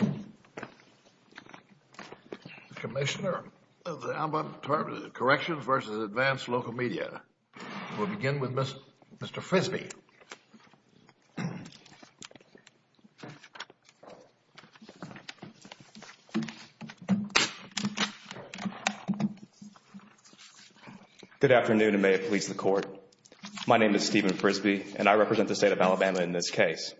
The Commissioner of the Alabama Department of Corrections v. Advanced Local Media. We'll begin with Mr. Frisbee. Good afternoon and may it please the Court. My name is Stephen Frisbee and I represent the State of Alabama in this case.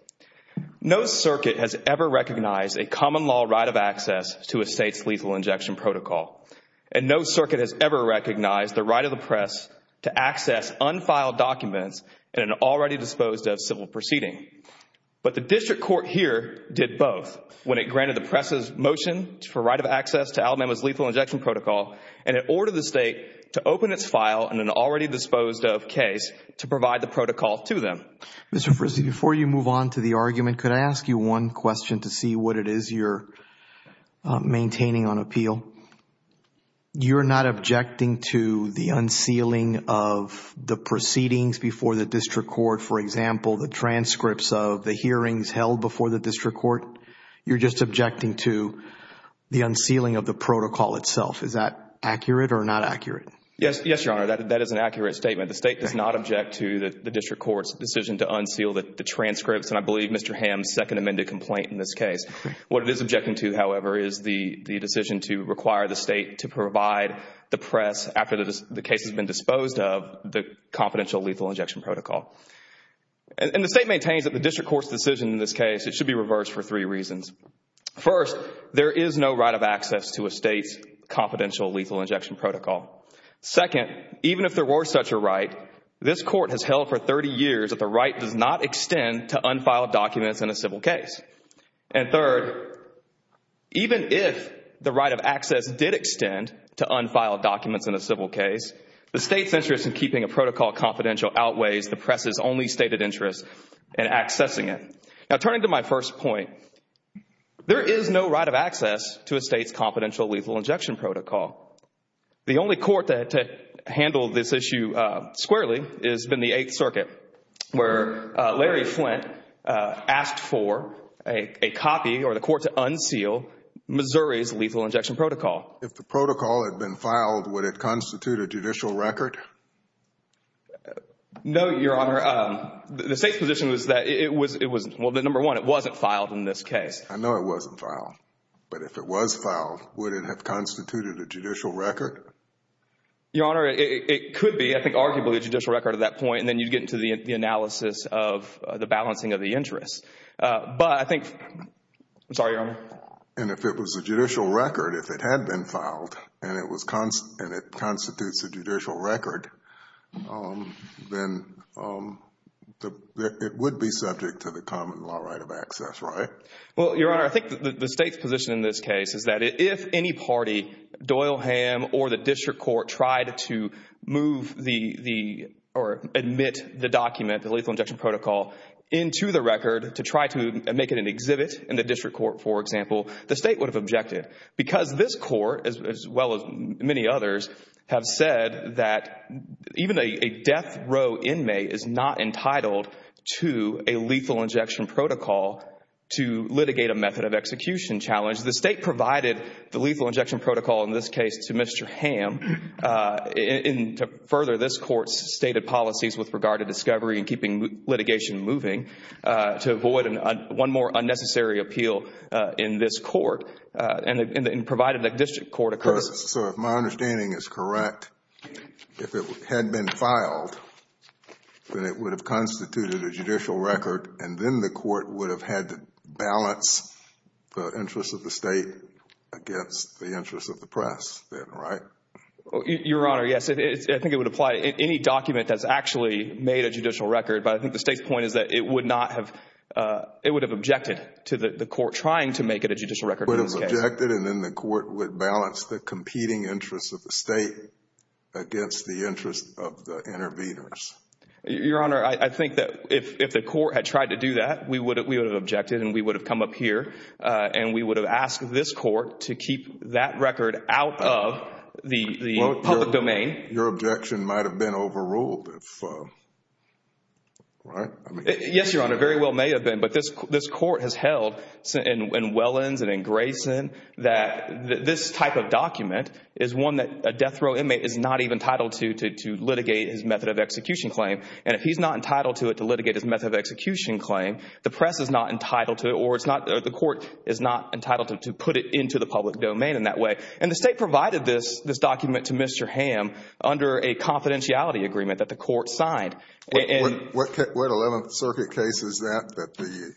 No circuit has ever recognized a common law right of access to a State's lethal injection protocol. And no circuit has ever recognized the right of the press to access unfiled documents in an already disposed of civil proceeding. But the District Court here did both when it granted the press's motion for right of access to Alabama's lethal injection protocol and it ordered the State to open its file in an already disposed of case to provide the protocol to them. Mr. Frisbee, before you move on to the argument, could I ask you one question to see what it is you're maintaining on appeal? You're not objecting to the unsealing of the proceedings before the District Court, for example, the transcripts of the hearings held before the District Court? You're just objecting to the unsealing of the protocol itself. Is that accurate or not accurate? Yes, Your Honor, that is an accurate statement. The State does not object to the District Court's decision to unseal the transcripts and I believe Mr. Hamm's second amended complaint in this case. What it is objecting to, however, is the decision to require the State to provide the press after the case has been disposed of the confidential lethal injection protocol. And the State maintains that the District Court's decision in this case, it should be reversed for three reasons. First, there is no right of access to a State's confidential lethal injection protocol. Second, even if there were such a right, this Court has held for 30 years that the right does not extend to unfiled documents in a civil case. And third, even if the right of access did extend to unfiled documents in a civil case, the State's interest in keeping a protocol confidential outweighs the press' only stated interest in accessing it. Now, turning to my first point, there is no right of access to a State's confidential lethal injection protocol. The only court to handle this issue squarely has been the Eighth Circuit where Larry Flint asked for a copy or the court to unseal Missouri's lethal injection protocol. If the protocol had been filed, would it constitute a judicial record? No, Your Honor. The State's position was that it was, well, number one, it wasn't filed in this case. I know it wasn't filed. But if it was filed, would it have constituted a judicial record? Your Honor, it could be, I think, arguably a judicial record at that point, and then you get into the analysis of the balancing of the interests. But I think, I'm sorry, Your Honor. And if it was a judicial record, if it had been filed and it constitutes a judicial record, then it would be subject to the common law right of access, right? Well, Your Honor, I think the State's position in this case is that if any party, Doyleham or the district court, tried to move the or admit the document, the lethal injection protocol, into the record to try to make it an exhibit in the district court, for example, the State would have objected. Because this court, as well as many others, have said that even a death row inmate is not entitled to a lethal injection protocol to litigate a method of execution challenge. The State provided the lethal injection protocol in this case to Mr. Ham to further this court's stated policies with regard to discovery and keeping litigation moving to avoid one more unnecessary appeal in this court, and provided that district court occurs. So if my understanding is correct, if it had been filed, then it would have constituted a judicial record, and then the court would have had to balance the interests of the State against the interests of the press then, right? Your Honor, yes. I think it would apply to any document that's actually made a judicial record. But I think the State's point is that it would not have, it would have objected to the court trying to make it a judicial record in this case. It would have objected, and then the court would balance the competing interests of the State against the interests of the interveners. Your Honor, I think that if the court had tried to do that, we would have objected, and we would have come up here, and we would have asked this court to keep that record out of the public domain. Your objection might have been overruled, right? Yes, Your Honor. It very well may have been. But this court has held in Wellins and in Grayson that this type of document is one that a death row inmate is not even entitled to litigate his method of execution claim. And if he's not entitled to it to litigate his method of execution claim, the press is not entitled to it or the court is not entitled to put it into the public domain in that way. And the State provided this document to Mr. Hamm under a confidentiality agreement that the court signed. What 11th Circuit case is that, that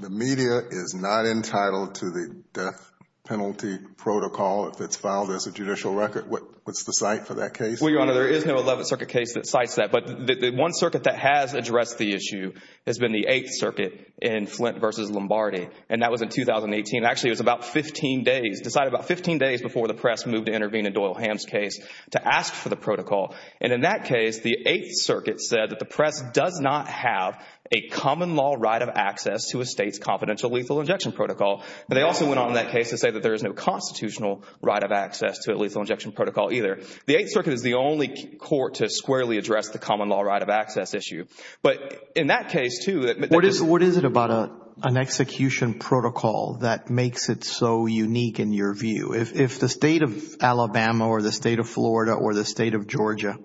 the media is not entitled to the death penalty protocol if it's filed as a judicial record? What's the cite for that case? Well, Your Honor, there is no 11th Circuit case that cites that. But the one circuit that has addressed the issue has been the 8th Circuit in Flint v. Lombardi, and that was in 2018. Actually, it was about 15 days, decided about 15 days before the press moved to intervene in Doyle Hamm's case to ask for the protocol. And in that case, the 8th Circuit said that the press does not have a common law right of access to a state's confidential lethal injection protocol. But they also went on in that case to say that there is no constitutional right of access to a lethal injection protocol either. The 8th Circuit is the only court to squarely address the common law right of access issue. But in that case, too— What is it about an execution protocol that makes it so unique in your view? If the state of Alabama or the state of Florida or the state of Georgia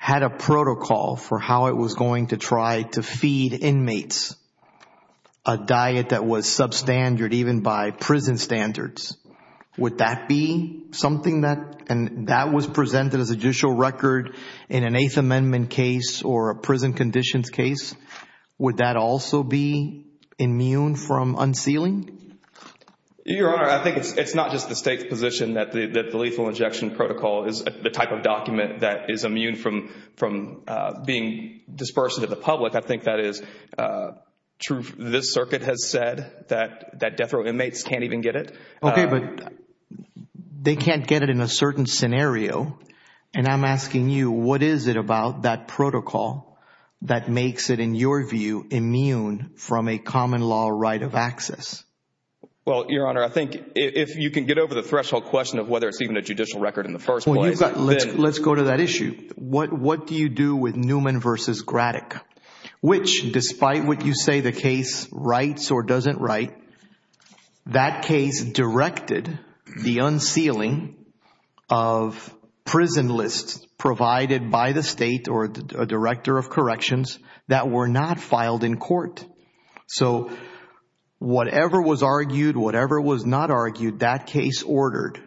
had a protocol for how it was going to try to feed inmates a diet that was substandard even by prison standards, would that be something that was presented as a judicial record in an Eighth Amendment case or a prison conditions case? Would that also be immune from unsealing? Your Honor, I think it's not just the state's position that the lethal injection protocol is the type of document that is immune from being dispersed to the public. I think that is true. This circuit has said that death row inmates can't even get it. Okay, but they can't get it in a certain scenario. And I'm asking you, what is it about that protocol that makes it, in your view, immune from a common law right of access? Well, Your Honor, I think if you can get over the threshold question of whether it's even a judicial record in the first place— Let's go to that issue. What do you do with Newman v. Graddick? Which, despite what you say the case writes or doesn't write, that case directed the unsealing of prison lists provided by the state or a director of corrections that were not filed in court. So whatever was argued, whatever was not argued, that case ordered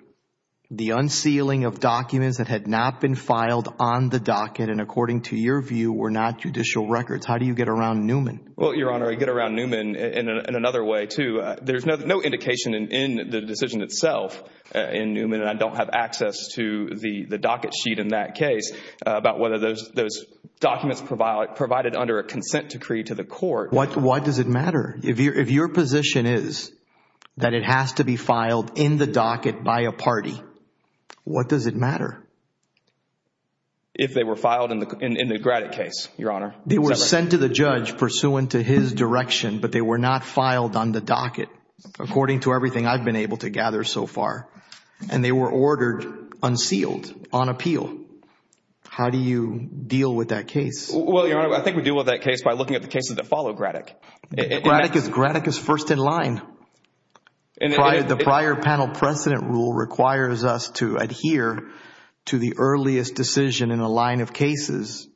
the unsealing of documents that had not been filed on the docket and, according to your view, were not judicial records. How do you get around Newman? Well, Your Honor, I get around Newman in another way, too. There's no indication in the decision itself in Newman, and I don't have access to the docket sheet in that case, about whether those documents provided under a consent decree to the court— What does it matter? If your position is that it has to be filed in the docket by a party, what does it matter? If they were filed in the Graddick case, Your Honor. They were sent to the judge pursuant to his direction, but they were not filed on the docket, according to everything I've been able to gather so far. And they were ordered unsealed on appeal. How do you deal with that case? Well, Your Honor, I think we deal with that case by looking at the cases that follow Graddick. Graddick is first in line. The prior panel precedent rule requires us to adhere to the earliest decision in a line of cases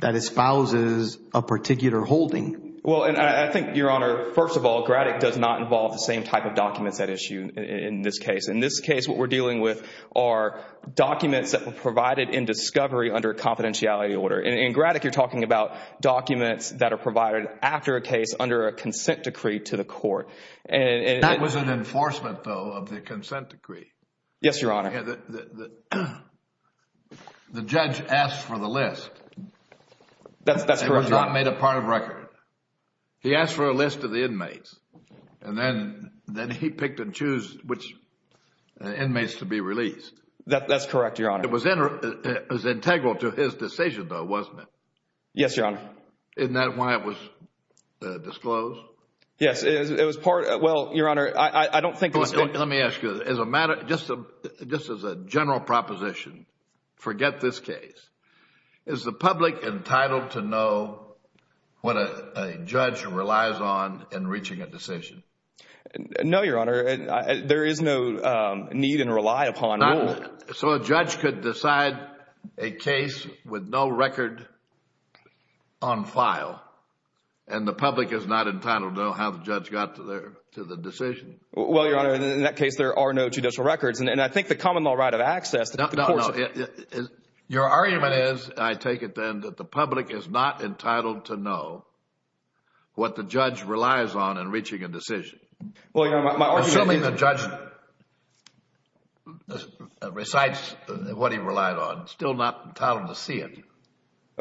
that espouses a particular holding. Well, and I think, Your Honor, first of all, Graddick does not involve the same type of documents at issue in this case. In this case, what we're dealing with are documents that were provided in discovery under a confidentiality order. In Graddick, you're talking about documents that are provided after a case under a consent decree to the court. That was an enforcement, though, of the consent decree. Yes, Your Honor. The judge asked for the list. That's correct, Your Honor. It was not made a part of record. He asked for a list of the inmates, and then he picked and chose which inmates to be released. That's correct, Your Honor. It was integral to his decision, though, wasn't it? Yes, Your Honor. Isn't that why it was disclosed? Yes, it was part of it. Well, Your Honor, I don't think it was. Let me ask you this. Just as a general proposition, forget this case. Is the public entitled to know what a judge relies on in reaching a decision? No, Your Honor. There is no need and rely upon rule. So a judge could decide a case with no record on file, and the public is not entitled to know how the judge got to the decision? Well, Your Honor, in that case, there are no judicial records, and I think the common law right of access that the courts— No, no, no. Your argument is, I take it then, that the public is not entitled to know what the judge relies on in reaching a decision. Well, Your Honor, my argument— recites what he relied on. Still not entitled to see it.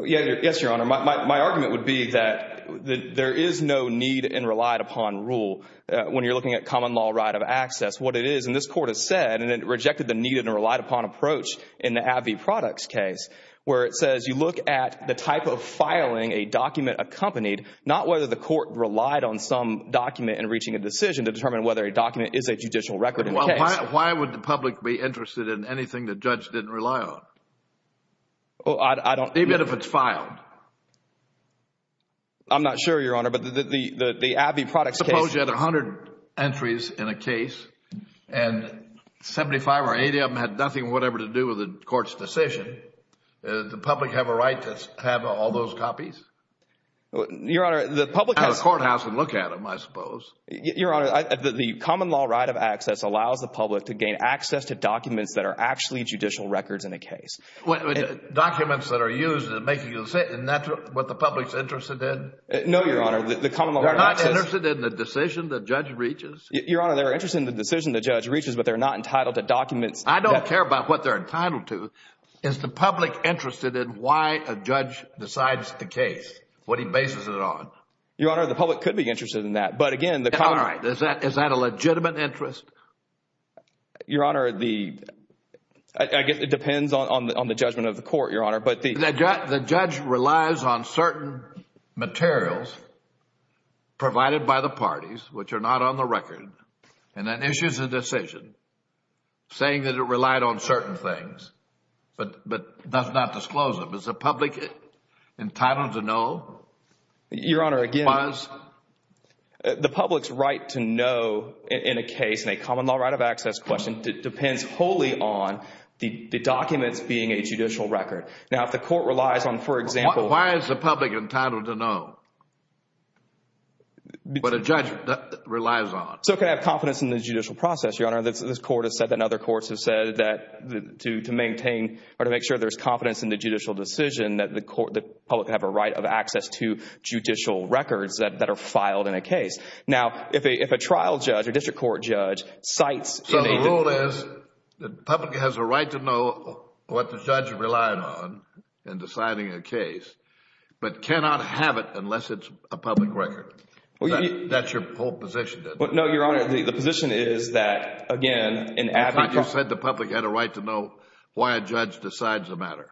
Yes, Your Honor. My argument would be that there is no need and relied upon rule when you're looking at common law right of access. What it is, and this Court has said, and it rejected the needed and relied upon approach in the AbbVie Products case, where it says you look at the type of filing a document accompanied, not whether the court relied on some document in reaching a decision to determine whether a document is a judicial record in the case. Why would the public be interested in anything the judge didn't rely on? Well, I don't— Even if it's filed. I'm not sure, Your Honor, but the AbbVie Products case— Suppose you had 100 entries in a case, and 75 or 80 of them had nothing whatever to do with the court's decision. Does the public have a right to have all those copies? Your Honor, the public has— Go to the courthouse and look at them, I suppose. Your Honor, the common law right of access allows the public to gain access to documents that are actually judicial records in a case. Documents that are used in making a decision. Isn't that what the public is interested in? No, Your Honor. They're not interested in the decision the judge reaches? Your Honor, they're interested in the decision the judge reaches, but they're not entitled to documents— I don't care about what they're entitled to. Is the public interested in why a judge decides the case, what he bases it on? Your Honor, the public could be interested in that. All right. Is that a legitimate interest? Your Honor, I guess it depends on the judgment of the court, Your Honor. The judge relies on certain materials provided by the parties, which are not on the record, and then issues a decision saying that it relied on certain things, but does not disclose them. Is the public entitled to know? Your Honor, again— The public's right to know in a case, in a common law right of access question, depends wholly on the documents being a judicial record. Now, if the court relies on, for example— Why is the public entitled to know what a judge relies on? So it could have confidence in the judicial process, Your Honor. This Court has said, and other courts have said, that to maintain or to make sure there's confidence in the judicial decision, that the public can have a right of access to judicial records that are filed in a case. Now, if a trial judge or district court judge cites— So the rule is the public has a right to know what the judge relied on in deciding a case, but cannot have it unless it's a public record. That's your whole position, then? No, Your Honor. The position is that, again, in AbbVie— You said the public had a right to know why a judge decides a matter.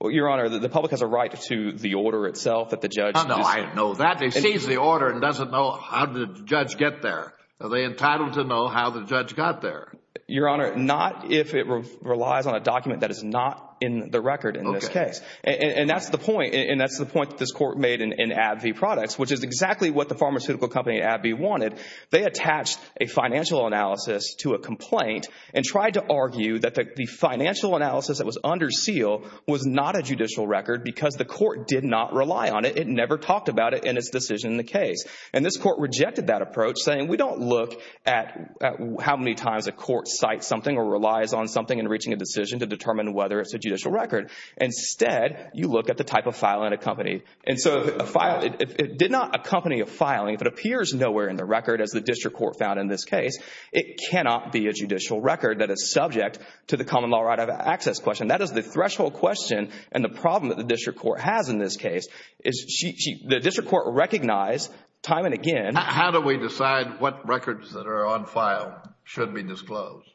Well, Your Honor, the public has a right to the order itself that the judge— Oh, no. I didn't know that. They seize the order and doesn't know how did the judge get there. Are they entitled to know how the judge got there? Your Honor, not if it relies on a document that is not in the record in this case. Okay. And that's the point that this court made in AbbVie Products, which is exactly what the pharmaceutical company, AbbVie, wanted. They attached a financial analysis to a complaint and tried to argue that the financial analysis that was under seal was not a judicial record because the court did not rely on it. It never talked about it in its decision in the case. And this court rejected that approach, saying, we don't look at how many times a court cites something or relies on something in reaching a decision to determine whether it's a judicial record. Instead, you look at the type of filing accompanied. And so a file—it did not accompany a filing. If it appears nowhere in the record, as the district court found in this case, it cannot be a judicial record that is subject to the common law right of access question. That is the threshold question and the problem that the district court has in this case. The district court recognized time and again— How do we decide what records that are on file should be disclosed?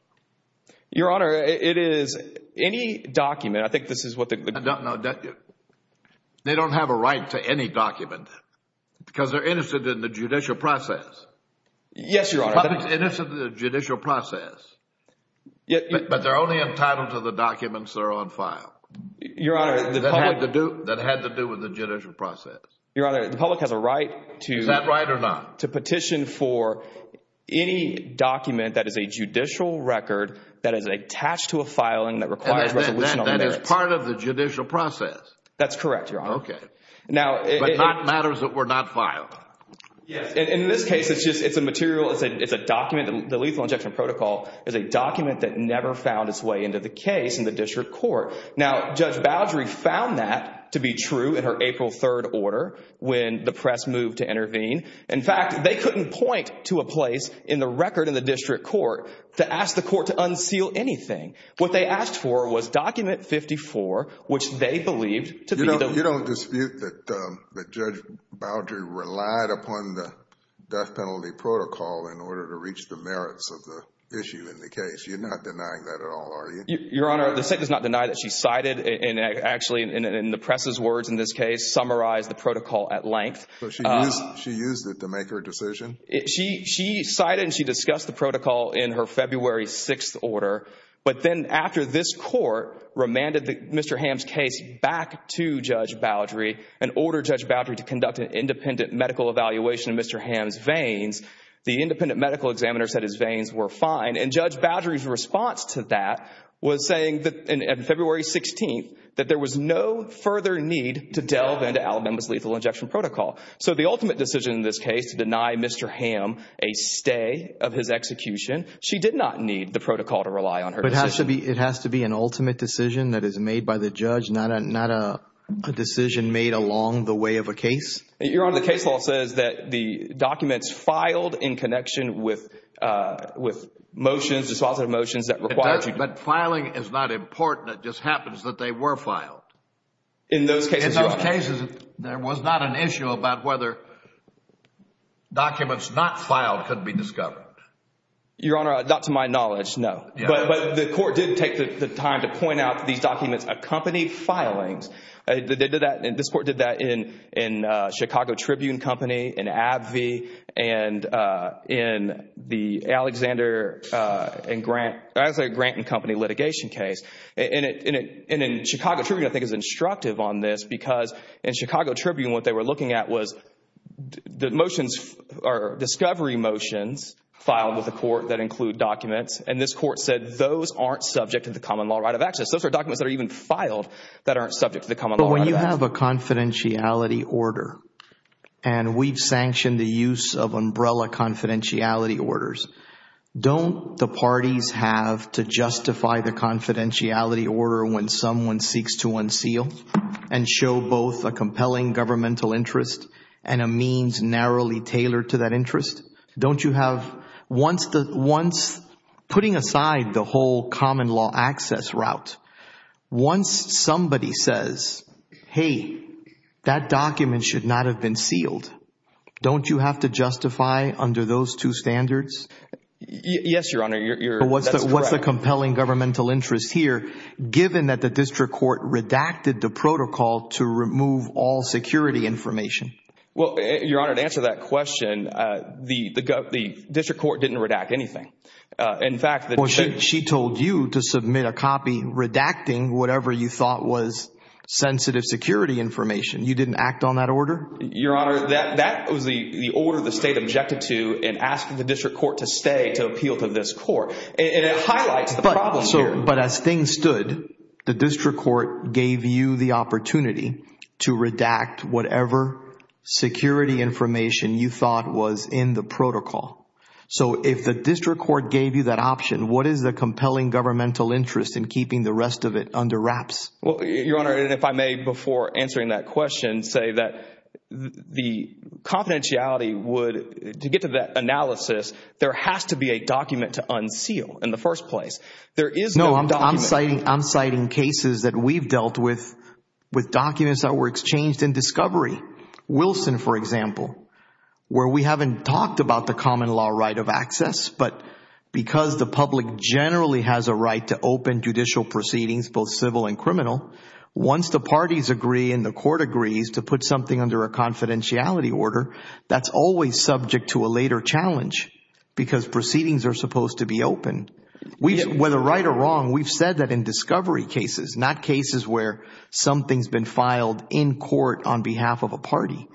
Your Honor, it is any document—I think this is what the— No, they don't have a right to any document because they're innocent in the judicial process. Yes, Your Honor. The public's innocent in the judicial process, but they're only entitled to the documents that are on file. Your Honor, the public— That had to do with the judicial process. Your Honor, the public has a right to— Is that right or not? To petition for any document that is a judicial record that is attached to a filing that requires resolution on the merits. That is part of the judicial process. That's correct, Your Honor. Okay. But not matters that were not filed. Yes. In this case, it's just—it's a material—it's a document. The lethal injection protocol is a document that never found its way into the case in the district court. Now, Judge Bowdrey found that to be true in her April 3rd order when the press moved to intervene. In fact, they couldn't point to a place in the record in the district court to ask the court to unseal anything. What they asked for was document 54, which they believed to be the— You don't dispute that Judge Bowdrey relied upon the death penalty protocol in order to reach the merits of the issue in the case. You're not denying that at all, are you? Your Honor, the State does not deny that she cited and actually, in the press's words in this case, summarized the protocol at length. So she used it to make her decision? She cited and she discussed the protocol in her February 6th order, but then after this court remanded Mr. Hamm's case back to Judge Bowdrey and ordered Judge Bowdrey to conduct an independent medical evaluation of Mr. Hamm's veins, the independent medical examiner said his veins were fine, and Judge Bowdrey's response to that was saying that that there was no further need to delve into Alabama's lethal injection protocol. So the ultimate decision in this case to deny Mr. Hamm a stay of his execution, she did not need the protocol to rely on her decision. But it has to be an ultimate decision that is made by the judge, not a decision made along the way of a case? Your Honor, the case law says that the documents filed in connection with motions, dispositive motions that require— But filing is not important. It just happens that they were filed. In those cases— In those cases, there was not an issue about whether documents not filed could be discovered. Your Honor, not to my knowledge, no. But the court did take the time to point out these documents accompanied filings. This court did that in Chicago Tribune Company, in AbbVie, and in the Alexander and Grant—Alexander, Grant & Company litigation case. And in Chicago Tribune, I think, is instructive on this because in Chicago Tribune, what they were looking at was the motions— or discovery motions filed with the court that include documents. And this court said those aren't subject to the common law right of access. Those are documents that are even filed that aren't subject to the common law right of access. But when you have a confidentiality order, and we've sanctioned the use of umbrella confidentiality orders, don't the parties have to justify the confidentiality order when someone seeks to unseal and show both a compelling governmental interest and a means narrowly tailored to that interest? Don't you have—putting aside the whole common law access route, once somebody says, hey, that document should not have been sealed, don't you have to justify under those two standards? Yes, Your Honor, that's correct. But what's the compelling governmental interest here, given that the district court redacted the protocol to remove all security information? Well, Your Honor, to answer that question, the district court didn't redact anything. In fact— Well, she told you to submit a copy redacting whatever you thought was sensitive security information. You didn't act on that order? Your Honor, that was the order the state objected to in asking the district court to stay to appeal to this court. And it highlights the problem here. But as things stood, the district court gave you the opportunity to redact whatever security information you thought was in the protocol. So if the district court gave you that option, what is the compelling governmental interest in keeping the rest of it under wraps? Well, Your Honor, and if I may, before answering that question, say that the confidentiality would—to get to that analysis, there has to be a document to unseal in the first place. There is no document— No, I'm citing cases that we've dealt with, with documents that were exchanged in discovery. Wilson, for example, where we haven't talked about the common law right of access, but because the public generally has a right to open judicial proceedings, both civil and criminal, once the parties agree and the court agrees to put something under a confidentiality order, that's always subject to a later challenge because proceedings are supposed to be open. Whether right or wrong, we've said that in discovery cases, not cases where something's been filed in court on behalf of a party.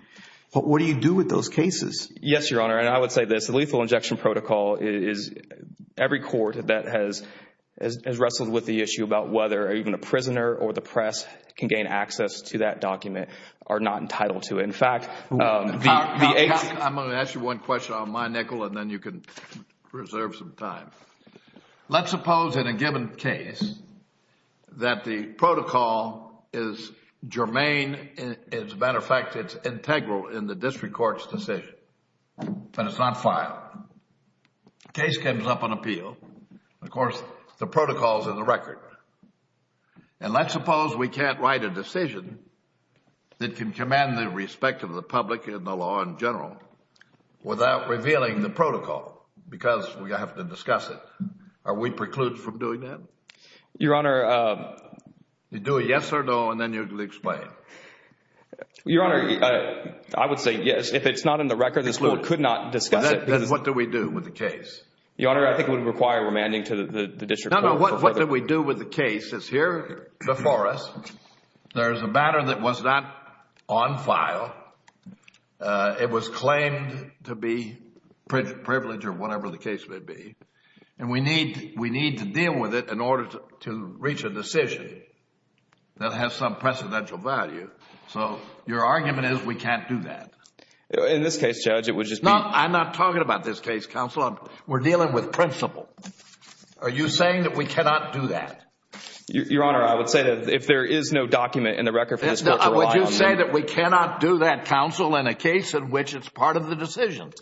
But what do you do with those cases? Yes, Your Honor, and I would say this. The lethal injection protocol is—every court that has wrestled with the issue about whether even a prisoner or the press can gain access to that document are not entitled to it. In fact, the— I'm going to ask you one question on my nickel and then you can reserve some time. Let's suppose in a given case that the protocol is germane. As a matter of fact, it's integral in the district court's decision, but it's not filed. The case comes up on appeal. And let's suppose we can't write a decision that can command the respect of the public and the law in general without revealing the protocol because we have to discuss it. Are we precluded from doing that? Your Honor— You do a yes or no and then you can explain. Your Honor, I would say yes. If it's not in the record, this court could not discuss it. Then what do we do with the case? Your Honor, I think it would require remanding to the district court. No, no. What do we do with the case? It's here before us. There's a matter that was not on file. It was claimed to be privilege or whatever the case may be. And we need to deal with it in order to reach a decision that has some precedential value. So your argument is we can't do that. In this case, Judge, it would just be— No, I'm not talking about this case, Counselor. We're dealing with principle. Are you saying that we cannot do that? Your Honor, I would say that if there is no document in the record for this court to rely on— Would you say that we cannot do that, Counsel, in a case in which it's part of the decision?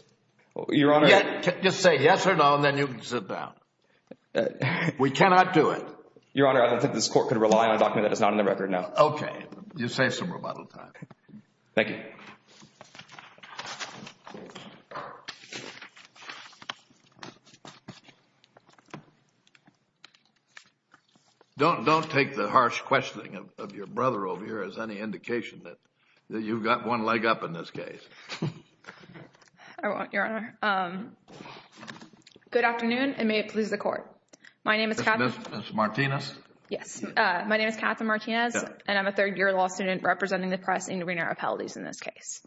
Your Honor— Just say yes or no and then you can sit down. We cannot do it. Your Honor, I don't think this court could rely on a document that is not in the record, no. Okay. You save some rebuttal time. Thank you. Don't take the harsh questioning of your brother over here as any indication that you've got one leg up in this case. I won't, Your Honor. Good afternoon, and may it please the Court. My name is— Ms. Martinez. Yes. My name is Katherine Martinez, and I'm a third-year law student representing the press intervening our appellaties in this case.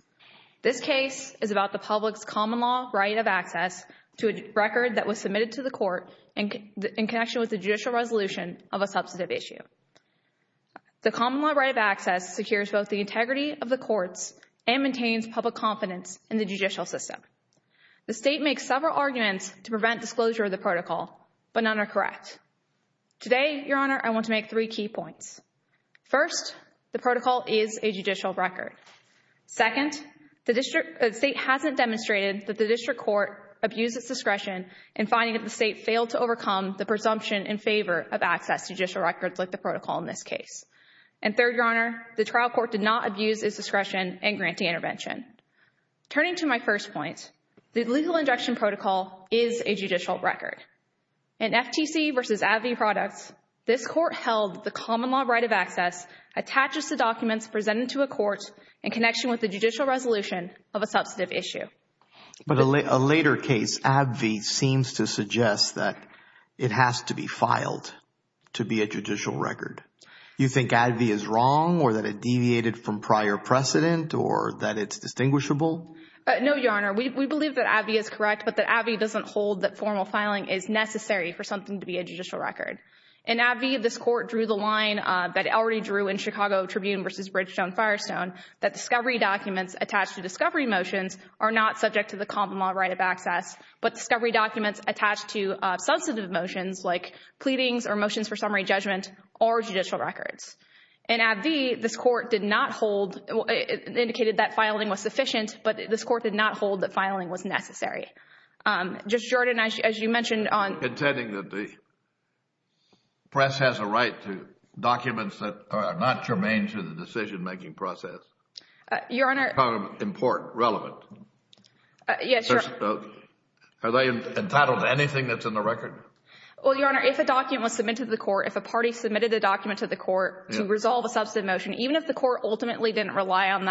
This case is about the public's common law right of access to a record that was submitted to the court in connection with the judicial resolution of a substantive issue. The common law right of access secures both the integrity of the courts and maintains public confidence in the judicial system. The State makes several arguments to prevent disclosure of the protocol, but none are correct. Today, Your Honor, I want to make three key points. First, the protocol is a judicial record. Second, the State hasn't demonstrated that the district court abused its discretion in finding that the State failed to overcome the presumption in favor of access to judicial records like the protocol in this case. And third, Your Honor, the trial court did not abuse its discretion in granting intervention. Turning to my first point, the legal injection protocol is a judicial record. In FTC v. AbbVie products, this court held the common law right of access attaches to documents presented to a court in connection with the judicial resolution of a substantive issue. But a later case, AbbVie, seems to suggest that it has to be filed to be a judicial record. You think AbbVie is wrong or that it deviated from prior precedent or that it's distinguishable? No, Your Honor. We believe that AbbVie is correct, but that AbbVie doesn't hold that formal filing is necessary for something to be a judicial record. In AbbVie, this court drew the line that it already drew in Chicago Tribune v. Bridgestone-Firestone, that discovery documents attached to discovery motions are not subject to the common law right of access, but discovery documents attached to substantive motions like pleadings or motions for summary judgment are judicial records. In AbbVie, this court did not hold, indicated that filing was sufficient, but this court did not hold that filing was necessary. Judge Jordan, as you mentioned on – Intending that the press has a right to documents that are not germane to the decision-making process. Your Honor – Important, relevant. Yes, Your – Are they entitled to anything that's in the record? Well, Your Honor, if a document was submitted to the court, if a party submitted a document to the court to resolve a substantive motion, even if the court ultimately didn't rely on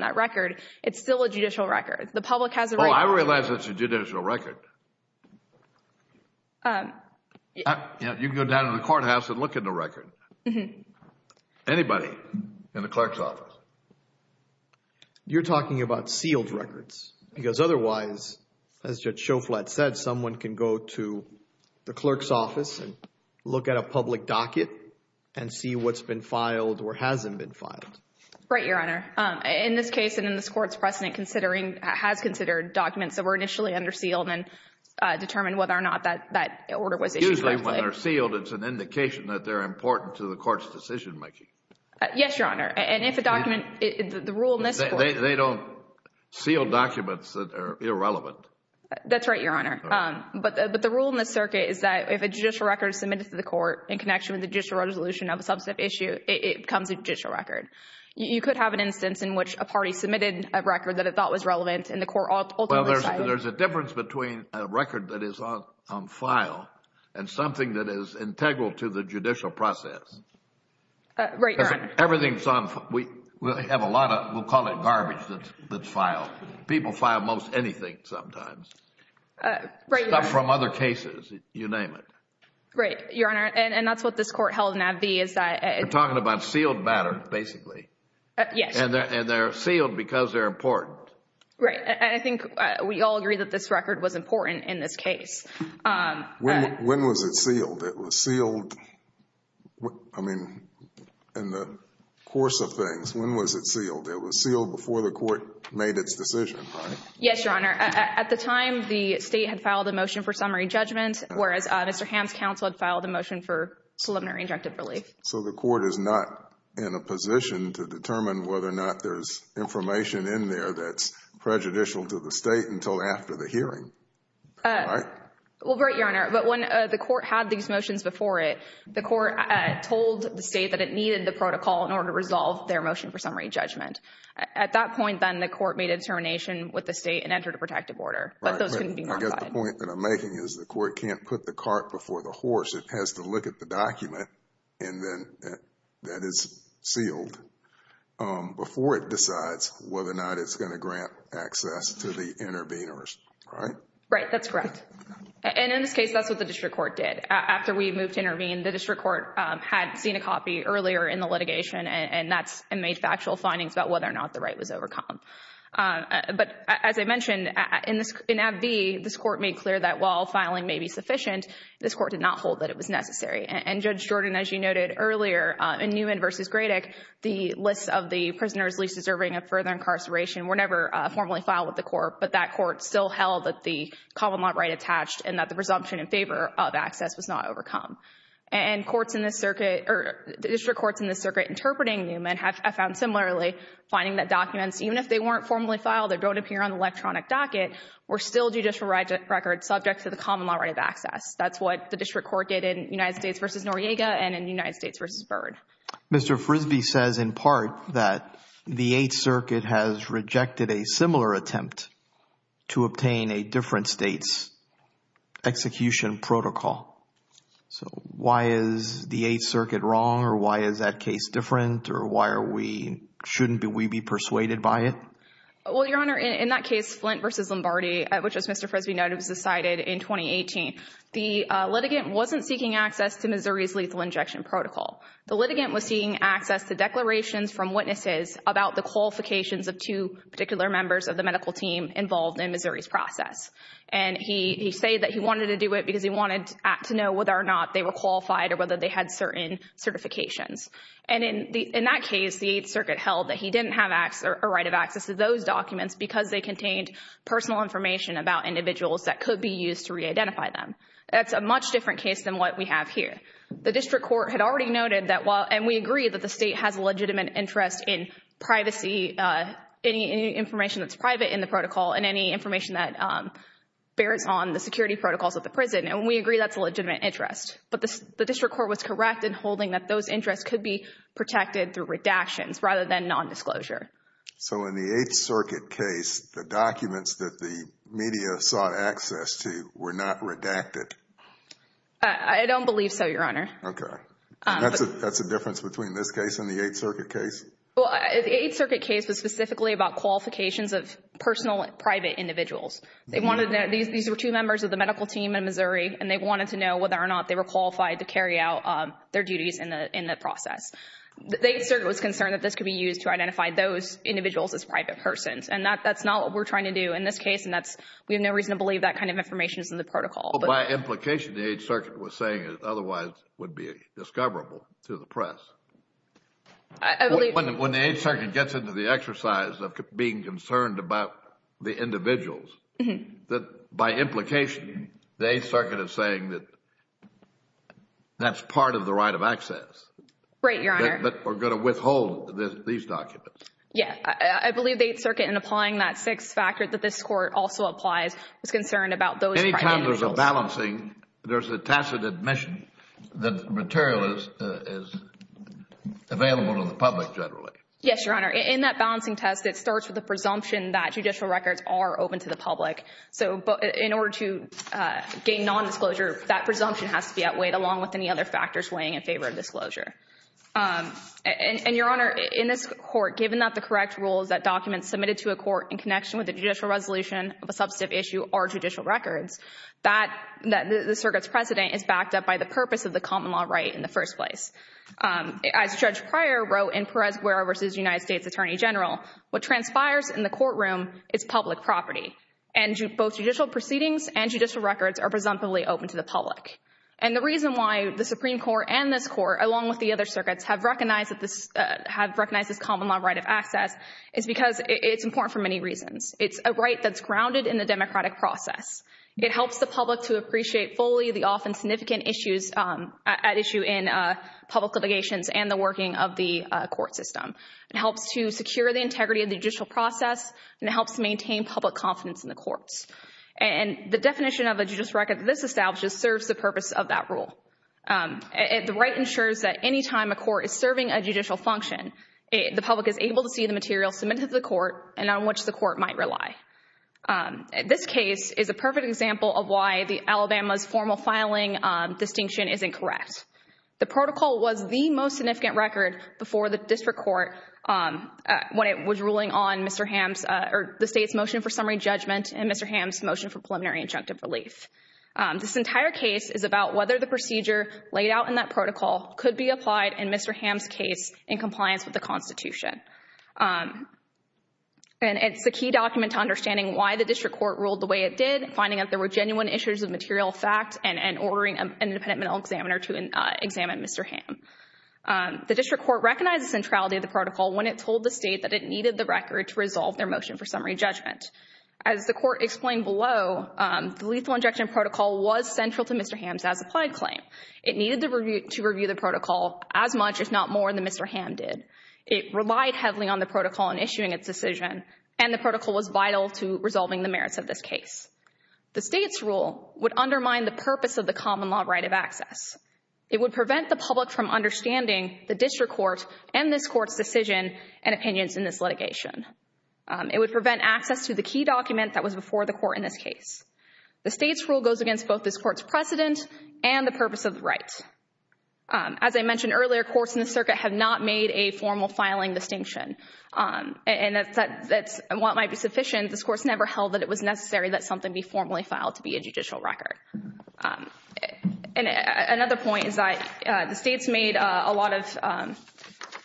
that record, it's still a judicial record. The public has a right – Oh, I realize that's a judicial record. You can go down to the courthouse and look at the record. Anybody in the clerk's office. You're talking about sealed records because otherwise, as Judge Schoflat said, someone can go to the clerk's office and look at a public docket and see what's been filed or hasn't been filed. Right, Your Honor. In this case and in this court's precedent considering – has considered documents that were initially under sealed and determined whether or not that order was issued directly. Usually when they're sealed, it's an indication that they're important to the court's decision-making. Yes, Your Honor. And if a document – the rule in this court – They don't seal documents that are irrelevant. That's right, Your Honor. But the rule in this circuit is that if a judicial record is submitted to the court in connection with the judicial resolution of a substantive issue, it becomes a judicial record. You could have an instance in which a party submitted a record that it thought was relevant and the court ultimately decided – Well, there's a difference between a record that is on file and something that is integral to the judicial process. Right, Your Honor. Everything's on – we have a lot of – we'll call it garbage that's filed. People file most anything sometimes. Right, Your Honor. Stuff from other cases. You name it. Right, Your Honor. And that's what this court held in Ad V is that – You're talking about sealed matter, basically. Yes. And they're sealed because they're important. And I think we all agree that this record was important in this case. When was it sealed? It was sealed, I mean, in the course of things. When was it sealed? It was sealed before the court made its decision, right? Yes, Your Honor. At the time, the state had filed a motion for summary judgment, whereas Mr. Hamm's counsel had filed a motion for preliminary injunctive relief. So the court is not in a position to determine whether or not there's information in there that's prejudicial to the state until after the hearing, right? Well, right, Your Honor. But when the court had these motions before it, the court told the state that it needed the protocol in order to resolve their motion for summary judgment. At that point, then, the court made a determination with the state and entered a protective order. But those couldn't be modified. Right, but I guess the point that I'm making is the court can't put the cart before the horse. It has to look at the document that is sealed before it decides whether or not it's going to grant access to the interveners, right? Right, that's correct. And in this case, that's what the district court did. After we moved to intervene, the district court had seen a copy earlier in the litigation and made factual findings about whether or not the right was overcome. But as I mentioned, in Ab B, this court made clear that while filing may be sufficient, this court did not hold that it was necessary. And Judge Jordan, as you noted earlier, in Newman v. Gradick, the list of the prisoners least deserving of further incarceration were never formally filed with the court. But that court still held that the common law right attached and that the presumption in favor of access was not overcome. And courts in this circuit, or district courts in this circuit interpreting Newman have found similarly, finding that documents, even if they weren't formally filed or don't appear on the electronic docket, were still judicial records subject to the common law right of access. That's what the district court did in United States v. Noriega and in United States v. Byrd. Mr. Frisby says in part that the Eighth Circuit has rejected a similar attempt to obtain a different state's execution protocol. So why is the Eighth Circuit wrong or why is that case different or why are we, shouldn't we be persuaded by it? Well, Your Honor, in that case, Flint v. Lombardi, which as Mr. Frisby noted was decided in 2018, the litigant wasn't seeking access to Missouri's lethal injection protocol. The litigant was seeking access to declarations from witnesses about the qualifications of two particular members of the medical team involved in Missouri's process. And he said that he wanted to do it because he wanted to know whether or not they were qualified or whether they had certain certifications. And in that case, the Eighth Circuit held that he didn't have a right of access to those documents because they contained personal information about individuals that could be used to re-identify them. That's a much different case than what we have here. The District Court had already noted that while, and we agree that the state has a legitimate interest in privacy, any information that's private in the protocol and any information that bears on the security protocols of the prison. And we agree that's a legitimate interest. But the District Court was correct in holding that those interests could be protected through redactions rather than nondisclosure. So in the Eighth Circuit case, the documents that the media sought access to were not redacted? I don't believe so, Your Honor. Okay. That's a difference between this case and the Eighth Circuit case? Well, the Eighth Circuit case was specifically about qualifications of personal and private individuals. These were two members of the medical team in Missouri, and they wanted to know whether or not they were qualified to carry out their duties in the process. The Eighth Circuit was concerned that this could be used to identify those individuals as private persons. And that's not what we're trying to do in this case. And we have no reason to believe that kind of information is in the protocol. Well, by implication, the Eighth Circuit was saying it otherwise would be discoverable to the press. I believe— When the Eighth Circuit gets into the exercise of being concerned about the individuals, by implication, the Eighth Circuit is saying that that's part of the right of access. Right, Your Honor. That we're going to withhold these documents. Yeah. I believe the Eighth Circuit, in applying that sixth factor that this Court also applies, was concerned about those private individuals. Any time there's a balancing, there's a tacit admission that material is available to the public, generally. Yes, Your Honor. In that balancing test, it starts with the presumption that judicial records are open to the public. So in order to gain nondisclosure, that presumption has to be outweighed, along with any other factors weighing in favor of disclosure. And, Your Honor, in this Court, given that the correct rule is that documents submitted to a court in connection with a judicial resolution of a substantive issue are judicial records, that the Circuit's precedent is backed up by the purpose of the common law right in the first place. As Judge Pryor wrote in Perez-Guerra v. United States Attorney General, what transpires in the courtroom is public property. And both judicial proceedings and judicial records are presumptively open to the public. And the reason why the Supreme Court and this Court, along with the other circuits, have recognized this common law right of access is because it's important for many reasons. It's a right that's grounded in the democratic process. It helps the public to appreciate fully the often significant issues at issue in public obligations and the working of the court system. It helps to secure the integrity of the judicial process, and it helps to maintain public confidence in the courts. And the definition of a judicial record that this establishes serves the purpose of that rule. The right ensures that any time a court is serving a judicial function, the public is able to see the material submitted to the court and on which the court might rely. This case is a perfect example of why the Alabama's formal filing distinction is incorrect. The protocol was the most significant record before the district court when it was ruling on Mr. Ham's or the State's motion for summary judgment and Mr. Ham's motion for preliminary injunctive relief. This entire case is about whether the procedure laid out in that protocol could be applied in Mr. Ham's case in compliance with the Constitution. And it's a key document to understanding why the district court ruled the way it did, finding out there were genuine issues of material fact, and ordering an independent mental examiner to examine Mr. Ham. The district court recognized the centrality of the protocol when it told the State that it needed the record to resolve their motion for summary judgment. As the court explained below, the lethal injection protocol was central to Mr. Ham's as-applied claim. It needed to review the protocol as much, if not more, than Mr. Ham did. It relied heavily on the protocol in issuing its decision, and the protocol was vital to resolving the merits of this case. The State's rule would undermine the purpose of the common law right of access. It would prevent the public from understanding the district court and this court's decision and opinions in this litigation. It would prevent access to the key document that was before the court in this case. The State's rule goes against both this court's precedent and the purpose of the right. As I mentioned earlier, courts in the circuit have not made a formal filing distinction. And while it might be sufficient, this court's never held that it was necessary that something be formally filed to be a judicial record. Another point is that the State's made a lot of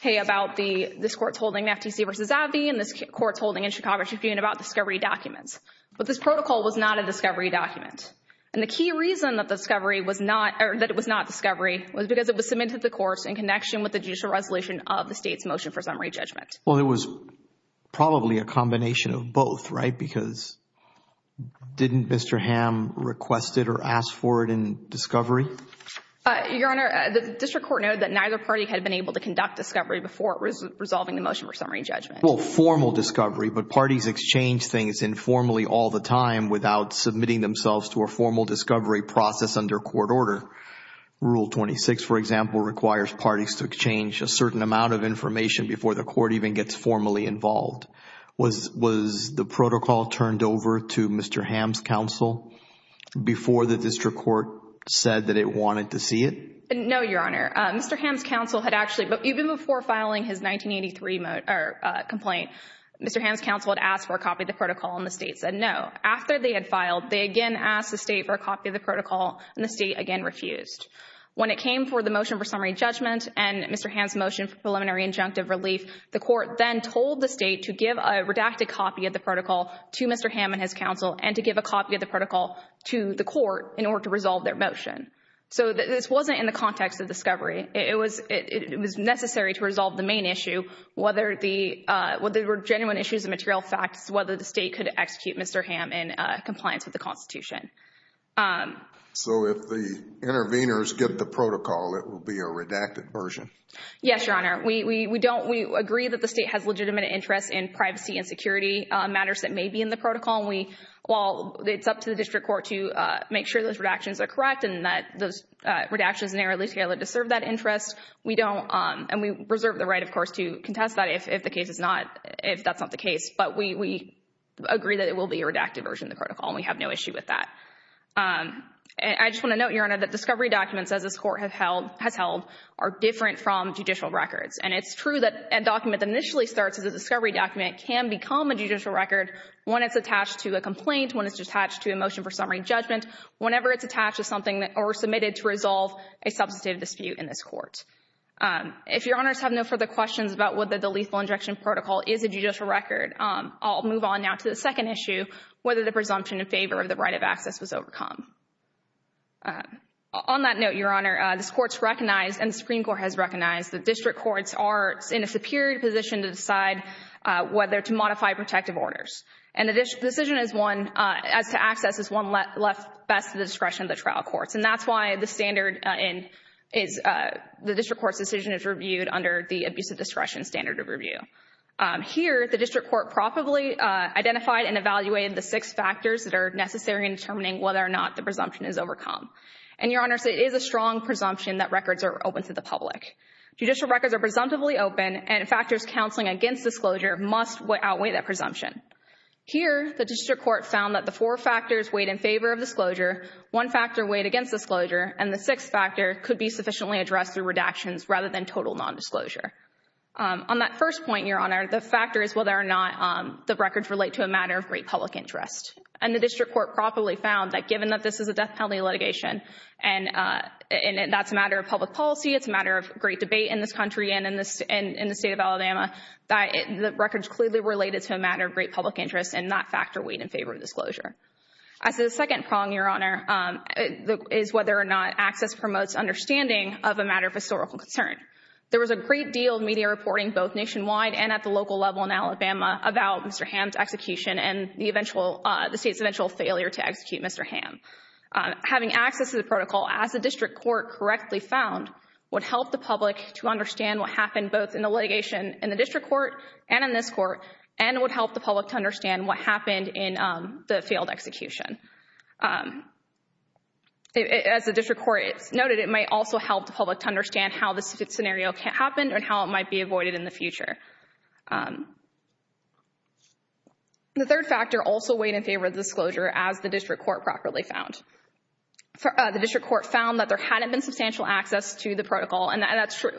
hay about this court's holding the FTC v. Avee and this court's holding in Chicago Chippewa and about discovery documents. But this protocol was not a discovery document. And the key reason that it was not discovery was because it was submitted to the courts in connection with the judicial resolution of the State's motion for summary judgment. Well, it was probably a combination of both, right? Because didn't Mr. Hamm request it or ask for it in discovery? Your Honor, the district court noted that neither party had been able to conduct discovery before resolving the motion for summary judgment. Well, formal discovery, but parties exchange things informally all the time without submitting themselves to a formal discovery process under court order. Rule 26, for example, requires parties to exchange a certain amount of information before the court even gets formally involved. Was the protocol turned over to Mr. Hamm's counsel before the district court said that it wanted to see it? No, Your Honor. Mr. Hamm's counsel had actually, even before filing his 1983 complaint, Mr. Hamm's counsel had asked for a copy of the protocol and the State said no. After they had filed, they again asked the State for a copy of the protocol and the State again refused. When it came for the motion for summary judgment and Mr. Hamm's motion for preliminary injunctive relief, the court then told the State to give a redacted copy of the protocol to Mr. Hamm and his counsel and to give a copy of the protocol to the court in order to resolve their motion. So this wasn't in the context of discovery. It was necessary to resolve the main issue, whether there were genuine issues and material facts, whether the State could execute Mr. Hamm in compliance with the Constitution. So if the interveners get the protocol, it will be a redacted version? Yes, Your Honor. We agree that the State has legitimate interest in privacy and security matters that may be in the protocol. While it's up to the district court to make sure those redactions are correct and that those redactions narrowly scale to serve that interest, and we reserve the right, of course, to contest that if that's not the case, but we agree that it will be a redacted version of the protocol and we have no issue with that. I just want to note, Your Honor, that discovery documents, as this Court has held, are different from judicial records. And it's true that a document that initially starts as a discovery document can become a judicial record when it's attached to a complaint, when it's attached to a motion for summary judgment. Whenever it's attached to something or submitted to resolve a substantive dispute in this Court. If Your Honors have no further questions about whether the lethal injection protocol is a judicial record, I'll move on now to the second issue, whether the presumption in favor of the right of access was overcome. On that note, Your Honor, this Court's recognized and the Supreme Court has recognized that district courts are in a superior position to decide whether to modify protective orders. And the decision as to access is one left best to the discretion of the trial courts. And that's why the district court's decision is reviewed under the abusive discretion standard of review. Here, the district court properly identified and evaluated the six factors that are necessary in determining whether or not the presumption is overcome. And, Your Honors, it is a strong presumption that records are open to the public. Judicial records are presumptively open and factors counseling against disclosure must outweigh that presumption. Here, the district court found that the four factors weighed in favor of disclosure, one factor weighed against disclosure, and the sixth factor could be sufficiently addressed through redactions rather than total nondisclosure. On that first point, Your Honor, the factor is whether or not the records relate to a matter of great public interest. And the district court properly found that given that this is a death penalty litigation and that's a matter of public policy, it's a matter of great debate in this country and in the state of Alabama that the records clearly related to a matter of great public interest and that factor weighed in favor of disclosure. As a second prong, Your Honor, is whether or not access promotes understanding of a matter of historical concern. There was a great deal of media reporting both nationwide and at the local level in Alabama about Mr. Hamm's execution and the state's eventual failure to execute Mr. Hamm. Having access to the protocol, as the district court correctly found, would help the public to understand what happened both in the litigation in the district court and in this court and would help the public to understand what happened in the failed execution. As the district court noted, it might also help the public to understand how this scenario happened and how it might be avoided in the future. The third factor also weighed in favor of disclosure, as the district court properly found. The district court found that there hadn't been substantial access to the protocol and that's true.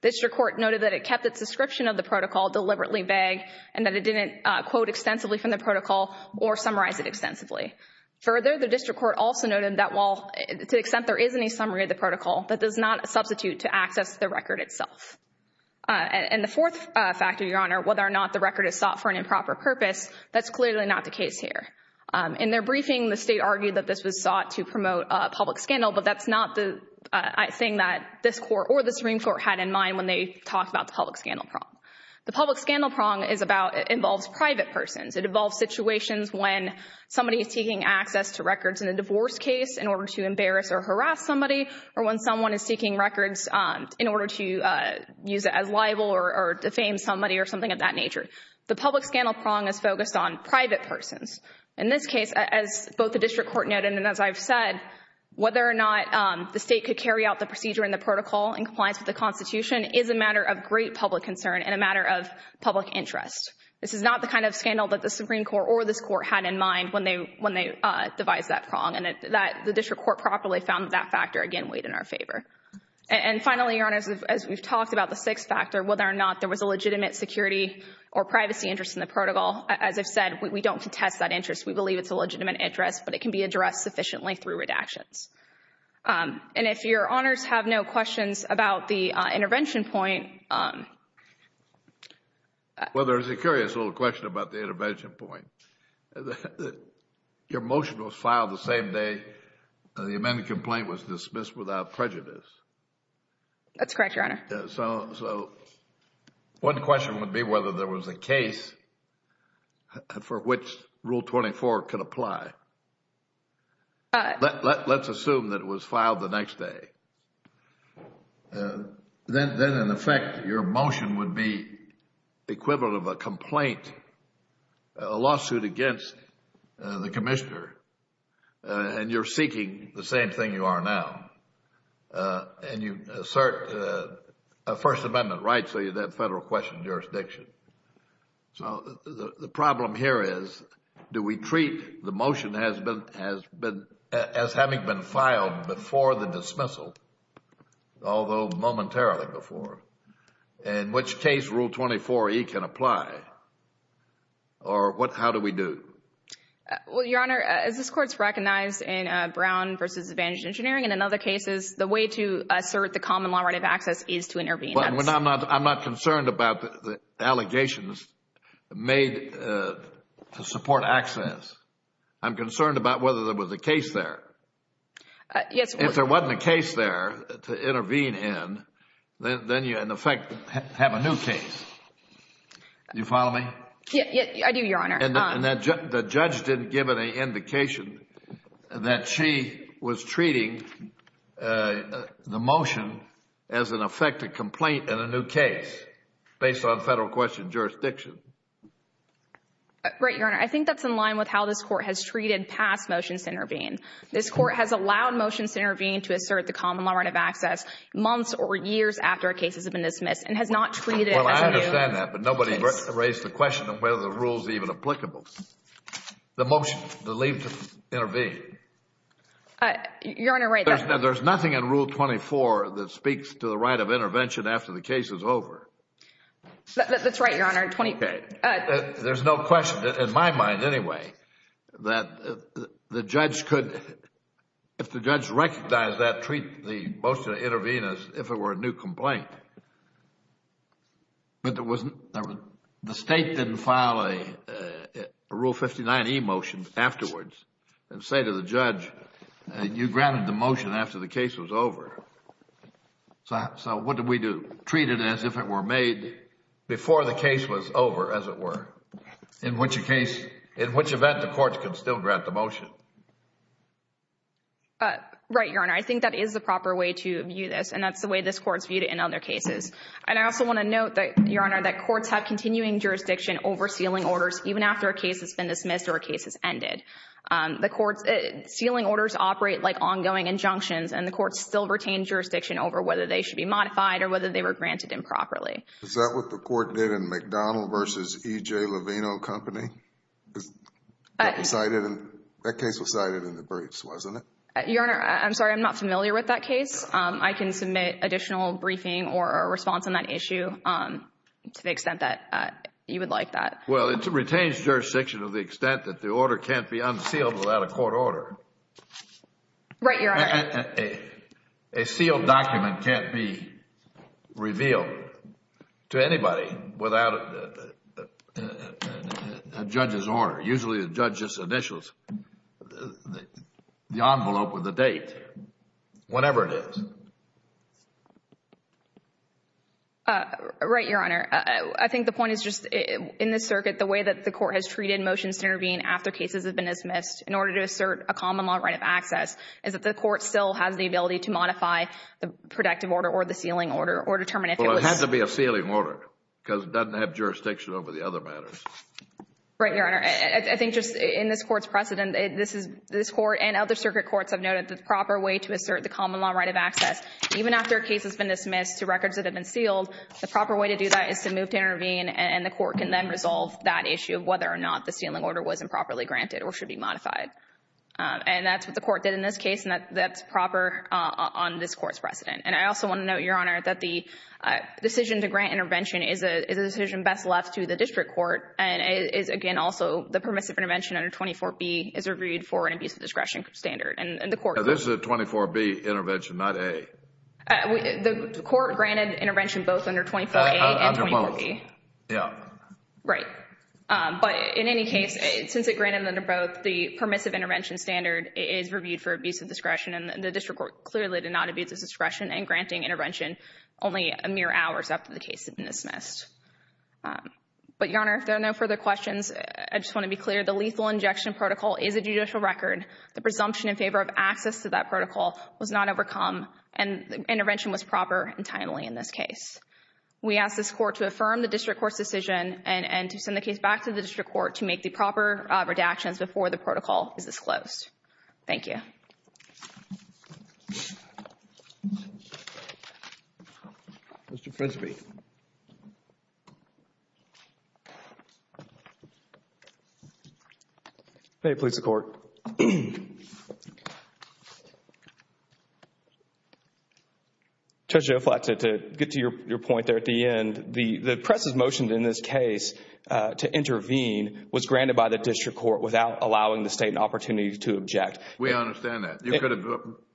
The district court noted that it kept its description of the protocol deliberately vague and that it didn't quote extensively from the protocol or summarize it extensively. Further, the district court also noted that while, to the extent there is any summary of the protocol, that does not substitute to access the record itself. And the fourth factor, Your Honor, whether or not the record is sought for an improper purpose, that's clearly not the case here. In their briefing, the State argued that this was sought to promote a public scandal, but that's not the thing that this Court or the Supreme Court had in mind when they talked about the public scandal prong. The public scandal prong involves private persons. It involves situations when somebody is taking access to records in a divorce case in order to embarrass or harass somebody or when someone is seeking records in order to use it as libel or defame somebody or something of that nature. The public scandal prong is focused on private persons. In this case, as both the district court noted and as I've said, whether or not the State could carry out the procedure in the protocol in compliance with the Constitution is a matter of great public concern and a matter of public interest. This is not the kind of scandal that the Supreme Court or this Court had in mind when they devised that prong. And the district court properly found that factor, again, weighed in our favor. And finally, Your Honor, as we've talked about the sixth factor, whether or not there was a legitimate security or privacy interest in the protocol. As I've said, we don't contest that interest. We believe it's a legitimate interest, but it can be addressed sufficiently through redactions. And if Your Honors have no questions about the intervention point. Well, there's a curious little question about the intervention point. Your motion was filed the same day the amended complaint was dismissed without prejudice. That's correct, Your Honor. So one question would be whether there was a case for which Rule 24 could apply. Let's assume that it was filed the next day. Then, in effect, your motion would be equivalent of a complaint, a lawsuit against the Commissioner, and you're seeking the same thing you are now. And you assert a First Amendment right, so you'd have federal question jurisdiction. So the problem here is, do we treat the motion as having been filed before the dismissal, although momentarily before? In which case Rule 24e can apply? Or how do we do? Well, Your Honor, as this Court's recognized in Brown v. Advantage Engineering and in other cases, the way to assert the common law right of access is to intervene. But I'm not concerned about the allegations made to support access. I'm concerned about whether there was a case there. Yes, Your Honor. If there wasn't a case there to intervene in, then you, in effect, have a new case. Do you follow me? I do, Your Honor. And the judge didn't give any indication that she was treating the motion as, in effect, a complaint in a new case based on federal question jurisdiction. Right, Your Honor. I think that's in line with how this Court has treated past motions to intervene. This Court has allowed motions to intervene to assert the common law right of access months or years after a case has been dismissed and has not treated it as a new case. Well, I understand that. But nobody raised the question of whether the rule is even applicable. The motion to intervene. Your Honor, right. There's nothing in Rule 24 that speaks to the right of intervention after the case is over. That's right, Your Honor. There's no question, in my mind anyway, that the judge could, if the judge recognized that, treat the motion to intervene as if it were a new complaint. But the state didn't file a Rule 59e motion afterwards and say to the judge, you granted the motion after the case was over. So what do we do? Treat it as if it were made before the case was over, as it were, in which case, in which event the courts can still grant the motion. Right, Your Honor. I think that is the proper way to view this. And that's the way this Court's viewed it in other cases. And I also want to note that, Your Honor, that courts have continuing jurisdiction over sealing orders even after a case has been dismissed or a case has ended. The court's sealing orders operate like ongoing injunctions, and the courts still retain jurisdiction over whether they should be modified or whether they were granted improperly. Is that what the Court did in McDonald v. E.J. Lovino Company? That case was cited in the briefs, wasn't it? Your Honor, I'm sorry, I'm not familiar with that case. I can submit additional briefing or a response on that issue to the extent that you would like that. Well, it retains jurisdiction to the extent that the order can't be unsealed without a court order. Right, Your Honor. A sealed document can't be revealed to anybody without a judge's order, usually a judge's initials, the envelope with the date, whatever it is. Right, Your Honor. I think the point is just in this circuit, the way that the Court has treated motions to intervene after cases have been dismissed in order to assert a common law right of access is that the Court still has the ability to modify the protective order or the sealing order or determine if it was... Well, it has to be a sealing order because it doesn't have jurisdiction over the other matters. Right, Your Honor. I think just in this Court's precedent, this Court and other circuit courts have noted that the proper way to assert the common law right of access, even after a case has been dismissed to records that have been sealed, the proper way to do that is to move to intervene, and the Court can then resolve that issue of whether or not the sealing order was improperly granted or should be modified. And that's what the Court did in this case, and that's proper on this Court's precedent. And I also want to note, Your Honor, that the decision to grant intervention is a decision best left to the district court, and is, again, also the permissive intervention under 24B is reviewed for an abuse of discretion standard, and the Court... This is a 24B intervention, not A. The Court granted intervention both under 24A and 24B. Under both, yeah. Right. But in any case, since it granted them both, the permissive intervention standard is reviewed for abuse of discretion, and the district court clearly did not abuse of discretion in granting intervention only mere hours after the case had been dismissed. But, Your Honor, if there are no further questions, I just want to be clear, the lethal injection protocol is a judicial record. The presumption in favor of access to that protocol was not overcome, and intervention was proper and timely in this case. We ask this Court to affirm the district court's decision and to send the case back to the district court to make the proper redactions before the protocol is disclosed. Thank you. Mr. Frisby. May it please the Court. Judge Joflat, to get to your point there at the end, the press's motion in this case to intervene was granted by the district court without allowing the State an opportunity to object. We understand that.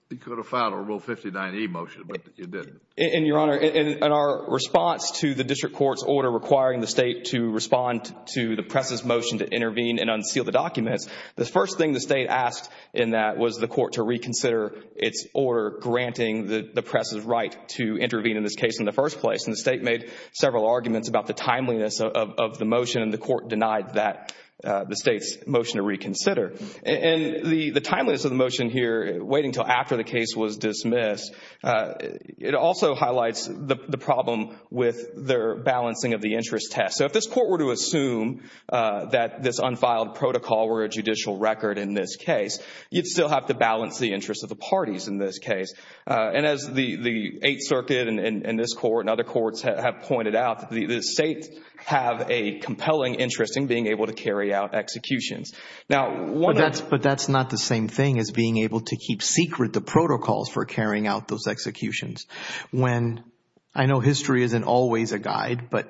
You could have filed a Rule 59E motion, but you didn't. And, Your Honor, in our response to the district court's order requiring the State to respond to the press's motion to intervene and unseal the documents, the first thing the State asked in that was the Court to reconsider its order granting the press's right to intervene in this case in the first place. And the State made several arguments about the timeliness of the motion, and the Court denied that, the State's motion to reconsider. And the timeliness of the motion here, waiting until after the case was dismissed, it also highlights the problem with their balancing of the interest test. So if this Court were to assume that this unfiled protocol were a judicial record in this case, you'd still have to balance the interests of the parties in this case. And as the Eighth Circuit and this Court and other courts have pointed out, the States have a compelling interest in being able to carry out executions. Now, one of the – But that's not the same thing as being able to keep secret the protocols for carrying out those executions. When – I know history isn't always a guide, but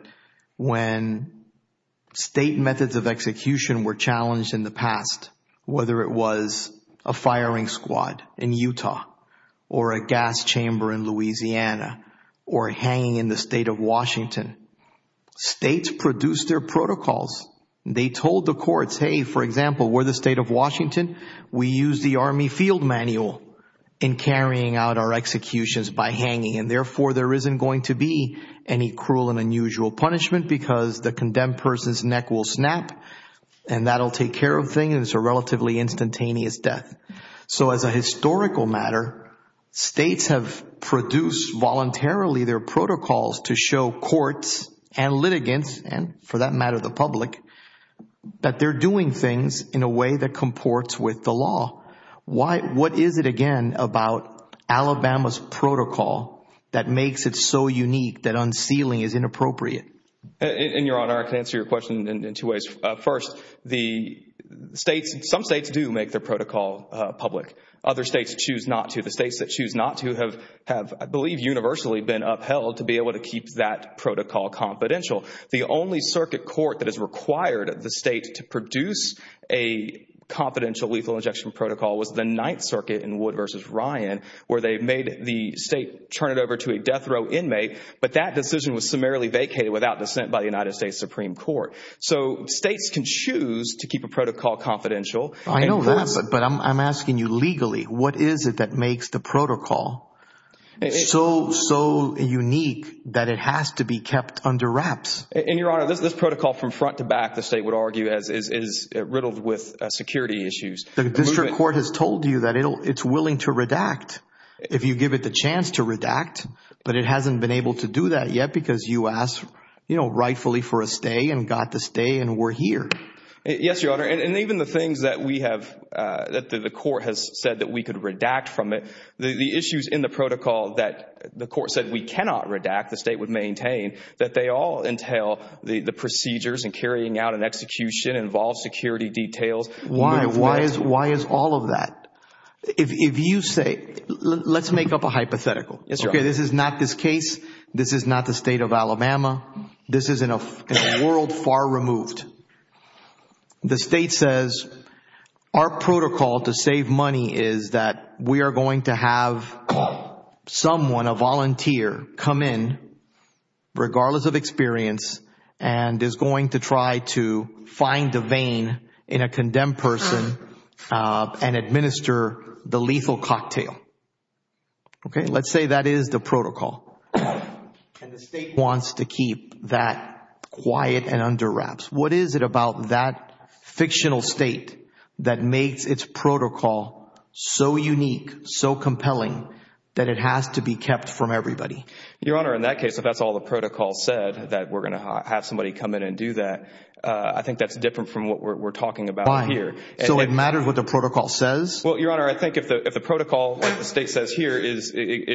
when State methods of execution were challenged in the past, whether it was a firing squad in Utah or a gas chamber in Louisiana or hanging in the State of Washington, States produced their protocols. They told the courts, hey, for example, we're the State of Washington, we use the Army Field Manual in carrying out our executions by hanging, and therefore there isn't going to be any cruel and unusual punishment because the condemned person's neck will snap, and that'll take care of things, and it's a relatively instantaneous death. So as a historical matter, States have produced voluntarily their protocols to show courts and litigants, and for that matter the public, that they're doing things in a way that comports with the law. What is it, again, about Alabama's protocol that makes it so unique that unsealing is inappropriate? And, Your Honor, I can answer your question in two ways. First, some States do make their protocol public. Other States choose not to. The States that choose not to have, I believe, universally been upheld to be able to keep that protocol confidential. The only circuit court that has required the State to produce a confidential lethal injection protocol was the Ninth Circuit in Wood v. Ryan, where they made the State turn it over to a death row inmate, but that decision was summarily vacated without dissent by the United States Supreme Court. So States can choose to keep a protocol confidential. I know that, but I'm asking you legally, what is it that makes the protocol so unique that it has to be kept under wraps? And, Your Honor, this protocol from front to back, the State would argue, is riddled with security issues. The district court has told you that it's willing to redact if you give it the chance to redact, but it hasn't been able to do that yet because you asked rightfully for a stay and got the stay and we're here. Yes, Your Honor, and even the things that we have, that the court has said that we could redact from it, the issues in the protocol that the court said we cannot redact, the State would maintain, that they all entail the procedures and carrying out an execution, involved security details. Why is all of that? If you say, let's make up a hypothetical. Okay, this is not this case. This is not the State of Alabama. This is in a world far removed. The State says our protocol to save money is that we are going to have someone, a volunteer, come in, regardless of experience, and is going to try to find a vein in a condemned person and administer the lethal cocktail. Okay, let's say that is the protocol, and the State wants to keep that quiet and under wraps. What is it about that fictional State that makes its protocol so unique, so compelling that it has to be kept from everybody? Your Honor, in that case, if that's all the protocol said, that we're going to have somebody come in and do that, I think that's different from what we're talking about here. So it matters what the protocol says? Well, Your Honor, I think if the protocol, like the State says here,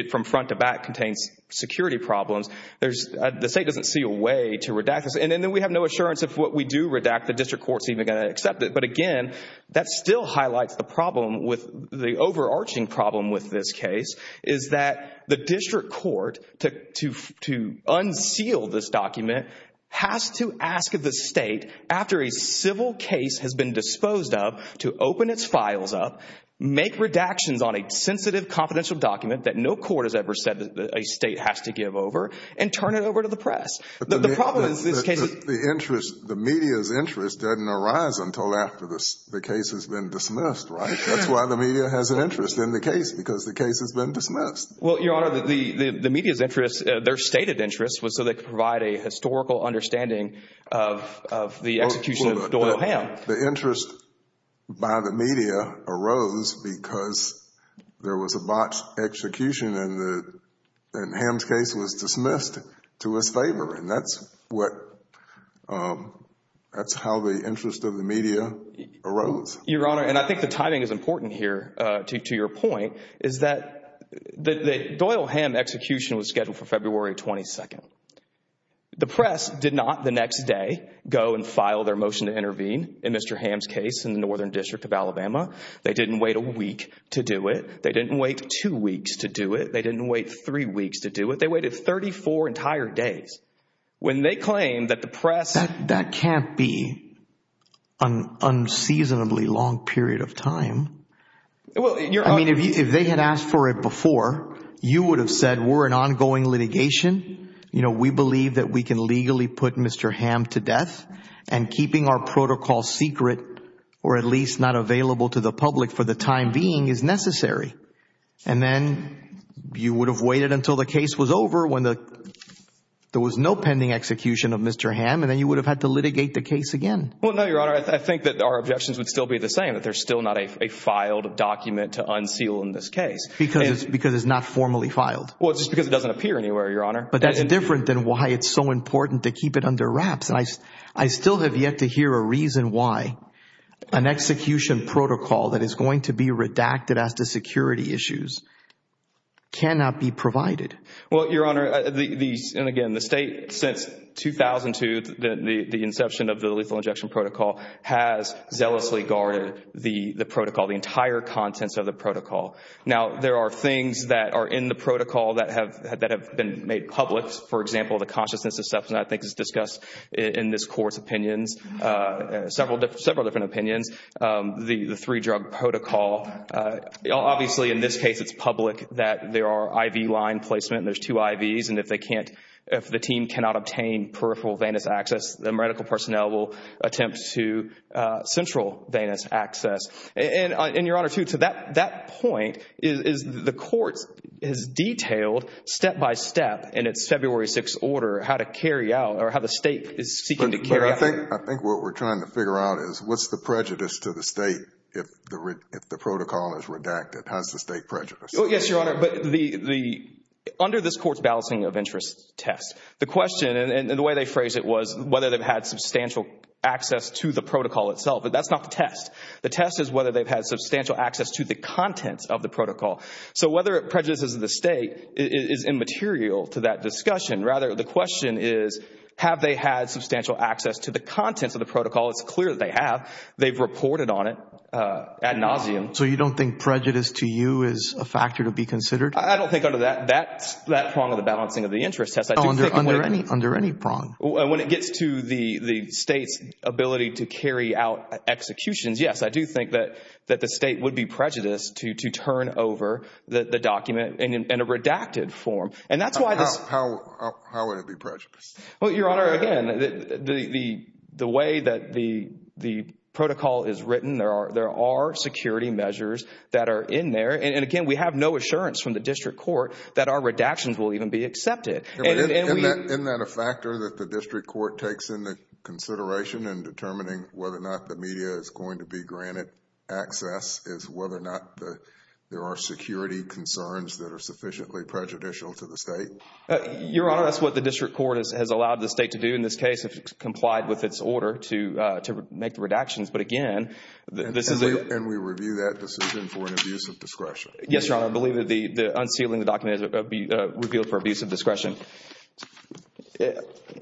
from front to back contains security problems, the State doesn't see a way to redact this. And then we have no assurance if what we do redact, the district court is even going to accept it. But, again, that still highlights the problem with the overarching problem with this case is that the district court, to unseal this document, has to ask the State, after a civil case has been disposed of, to open its files up, make redactions on a sensitive confidential document that no court has ever said that a State has to give over, and turn it over to the press. The problem is this case is— The interest, the media's interest doesn't arise until after the case has been dismissed, right? That's why the media has an interest in the case, because the case has been dismissed. Well, Your Honor, the media's interest, their stated interest, was so they could provide a historical understanding of the execution of Doyle O'Hamm. The interest by the media arose because there was a botched execution and O'Hamm's case was dismissed to his favor, and that's how the interest of the media arose. Your Honor, and I think the timing is important here to your point, is that the Doyle O'Hamm execution was scheduled for February 22nd. The press did not, the next day, go and file their motion to intervene in Mr. O'Hamm's case in the Northern District of Alabama. They didn't wait a week to do it. They didn't wait two weeks to do it. They didn't wait three weeks to do it. They waited 34 entire days. When they claim that the press— That can't be an unseasonably long period of time. I mean, if they had asked for it before, you would have said, we're an ongoing litigation. You know, we believe that we can legally put Mr. O'Hamm to death, and keeping our protocol secret, or at least not available to the public for the time being, is necessary. And then you would have waited until the case was over, when there was no pending execution of Mr. O'Hamm, and then you would have had to litigate the case again. Well, no, Your Honor. I think that our objections would still be the same, that there's still not a filed document to unseal in this case. Because it's not formally filed. Well, it's just because it doesn't appear anywhere, Your Honor. But that's different than why it's so important to keep it under wraps. I still have yet to hear a reason why an execution protocol that is going to be redacted as to security issues cannot be provided. Well, Your Honor, and again, the State, since 2002, the inception of the lethal injection protocol, has zealously guarded the protocol, the entire contents of the protocol. Now, there are things that are in the protocol that have been made public. For example, the consciousness assessment, I think, is discussed in this Court's opinions, several different opinions. The three-drug protocol, obviously, in this case, it's public that there are IV line placement, there's two IVs, and if the team cannot obtain peripheral venous access, then medical personnel will attempt to central venous access. And, Your Honor, too, to that point, the Court has detailed step-by-step in its February 6th order how to carry out or how the State is seeking to carry out. But I think what we're trying to figure out is what's the prejudice to the State if the protocol is redacted? How's the State prejudiced? Yes, Your Honor, but under this Court's balancing of interests test, the question, and the way they phrased it was But that's not the test. The test is whether they've had substantial access to the contents of the protocol. So whether it prejudices the State is immaterial to that discussion. Rather, the question is, have they had substantial access to the contents of the protocol? It's clear that they have. They've reported on it ad nauseum. So you don't think prejudice to you is a factor to be considered? I don't think under that prong of the balancing of the interests test. Under any prong. When it gets to the State's ability to carry out executions, yes, I do think that the State would be prejudiced to turn over the document in a redacted form. How would it be prejudiced? Your Honor, again, the way that the protocol is written, there are security measures that are in there. And again, we have no assurance from the District Court that our redactions will even be accepted. Isn't that a factor that the District Court takes into consideration in determining whether or not the media is going to be granted access is whether or not there are security concerns that are sufficiently prejudicial to the State? Your Honor, that's what the District Court has allowed the State to do in this case if it's complied with its order to make the redactions. But again, this is a... Yes, Your Honor. I believe that unsealing the document would be revealed for abuse of discretion.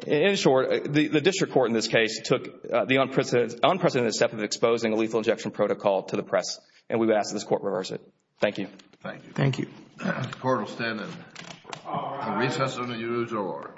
In short, the District Court in this case took the unprecedented step of exposing a lethal injection protocol to the press, and we would ask that this Court reverse it. Thank you. Thank you. The Court will stand in recess until you lose your order. Thank you.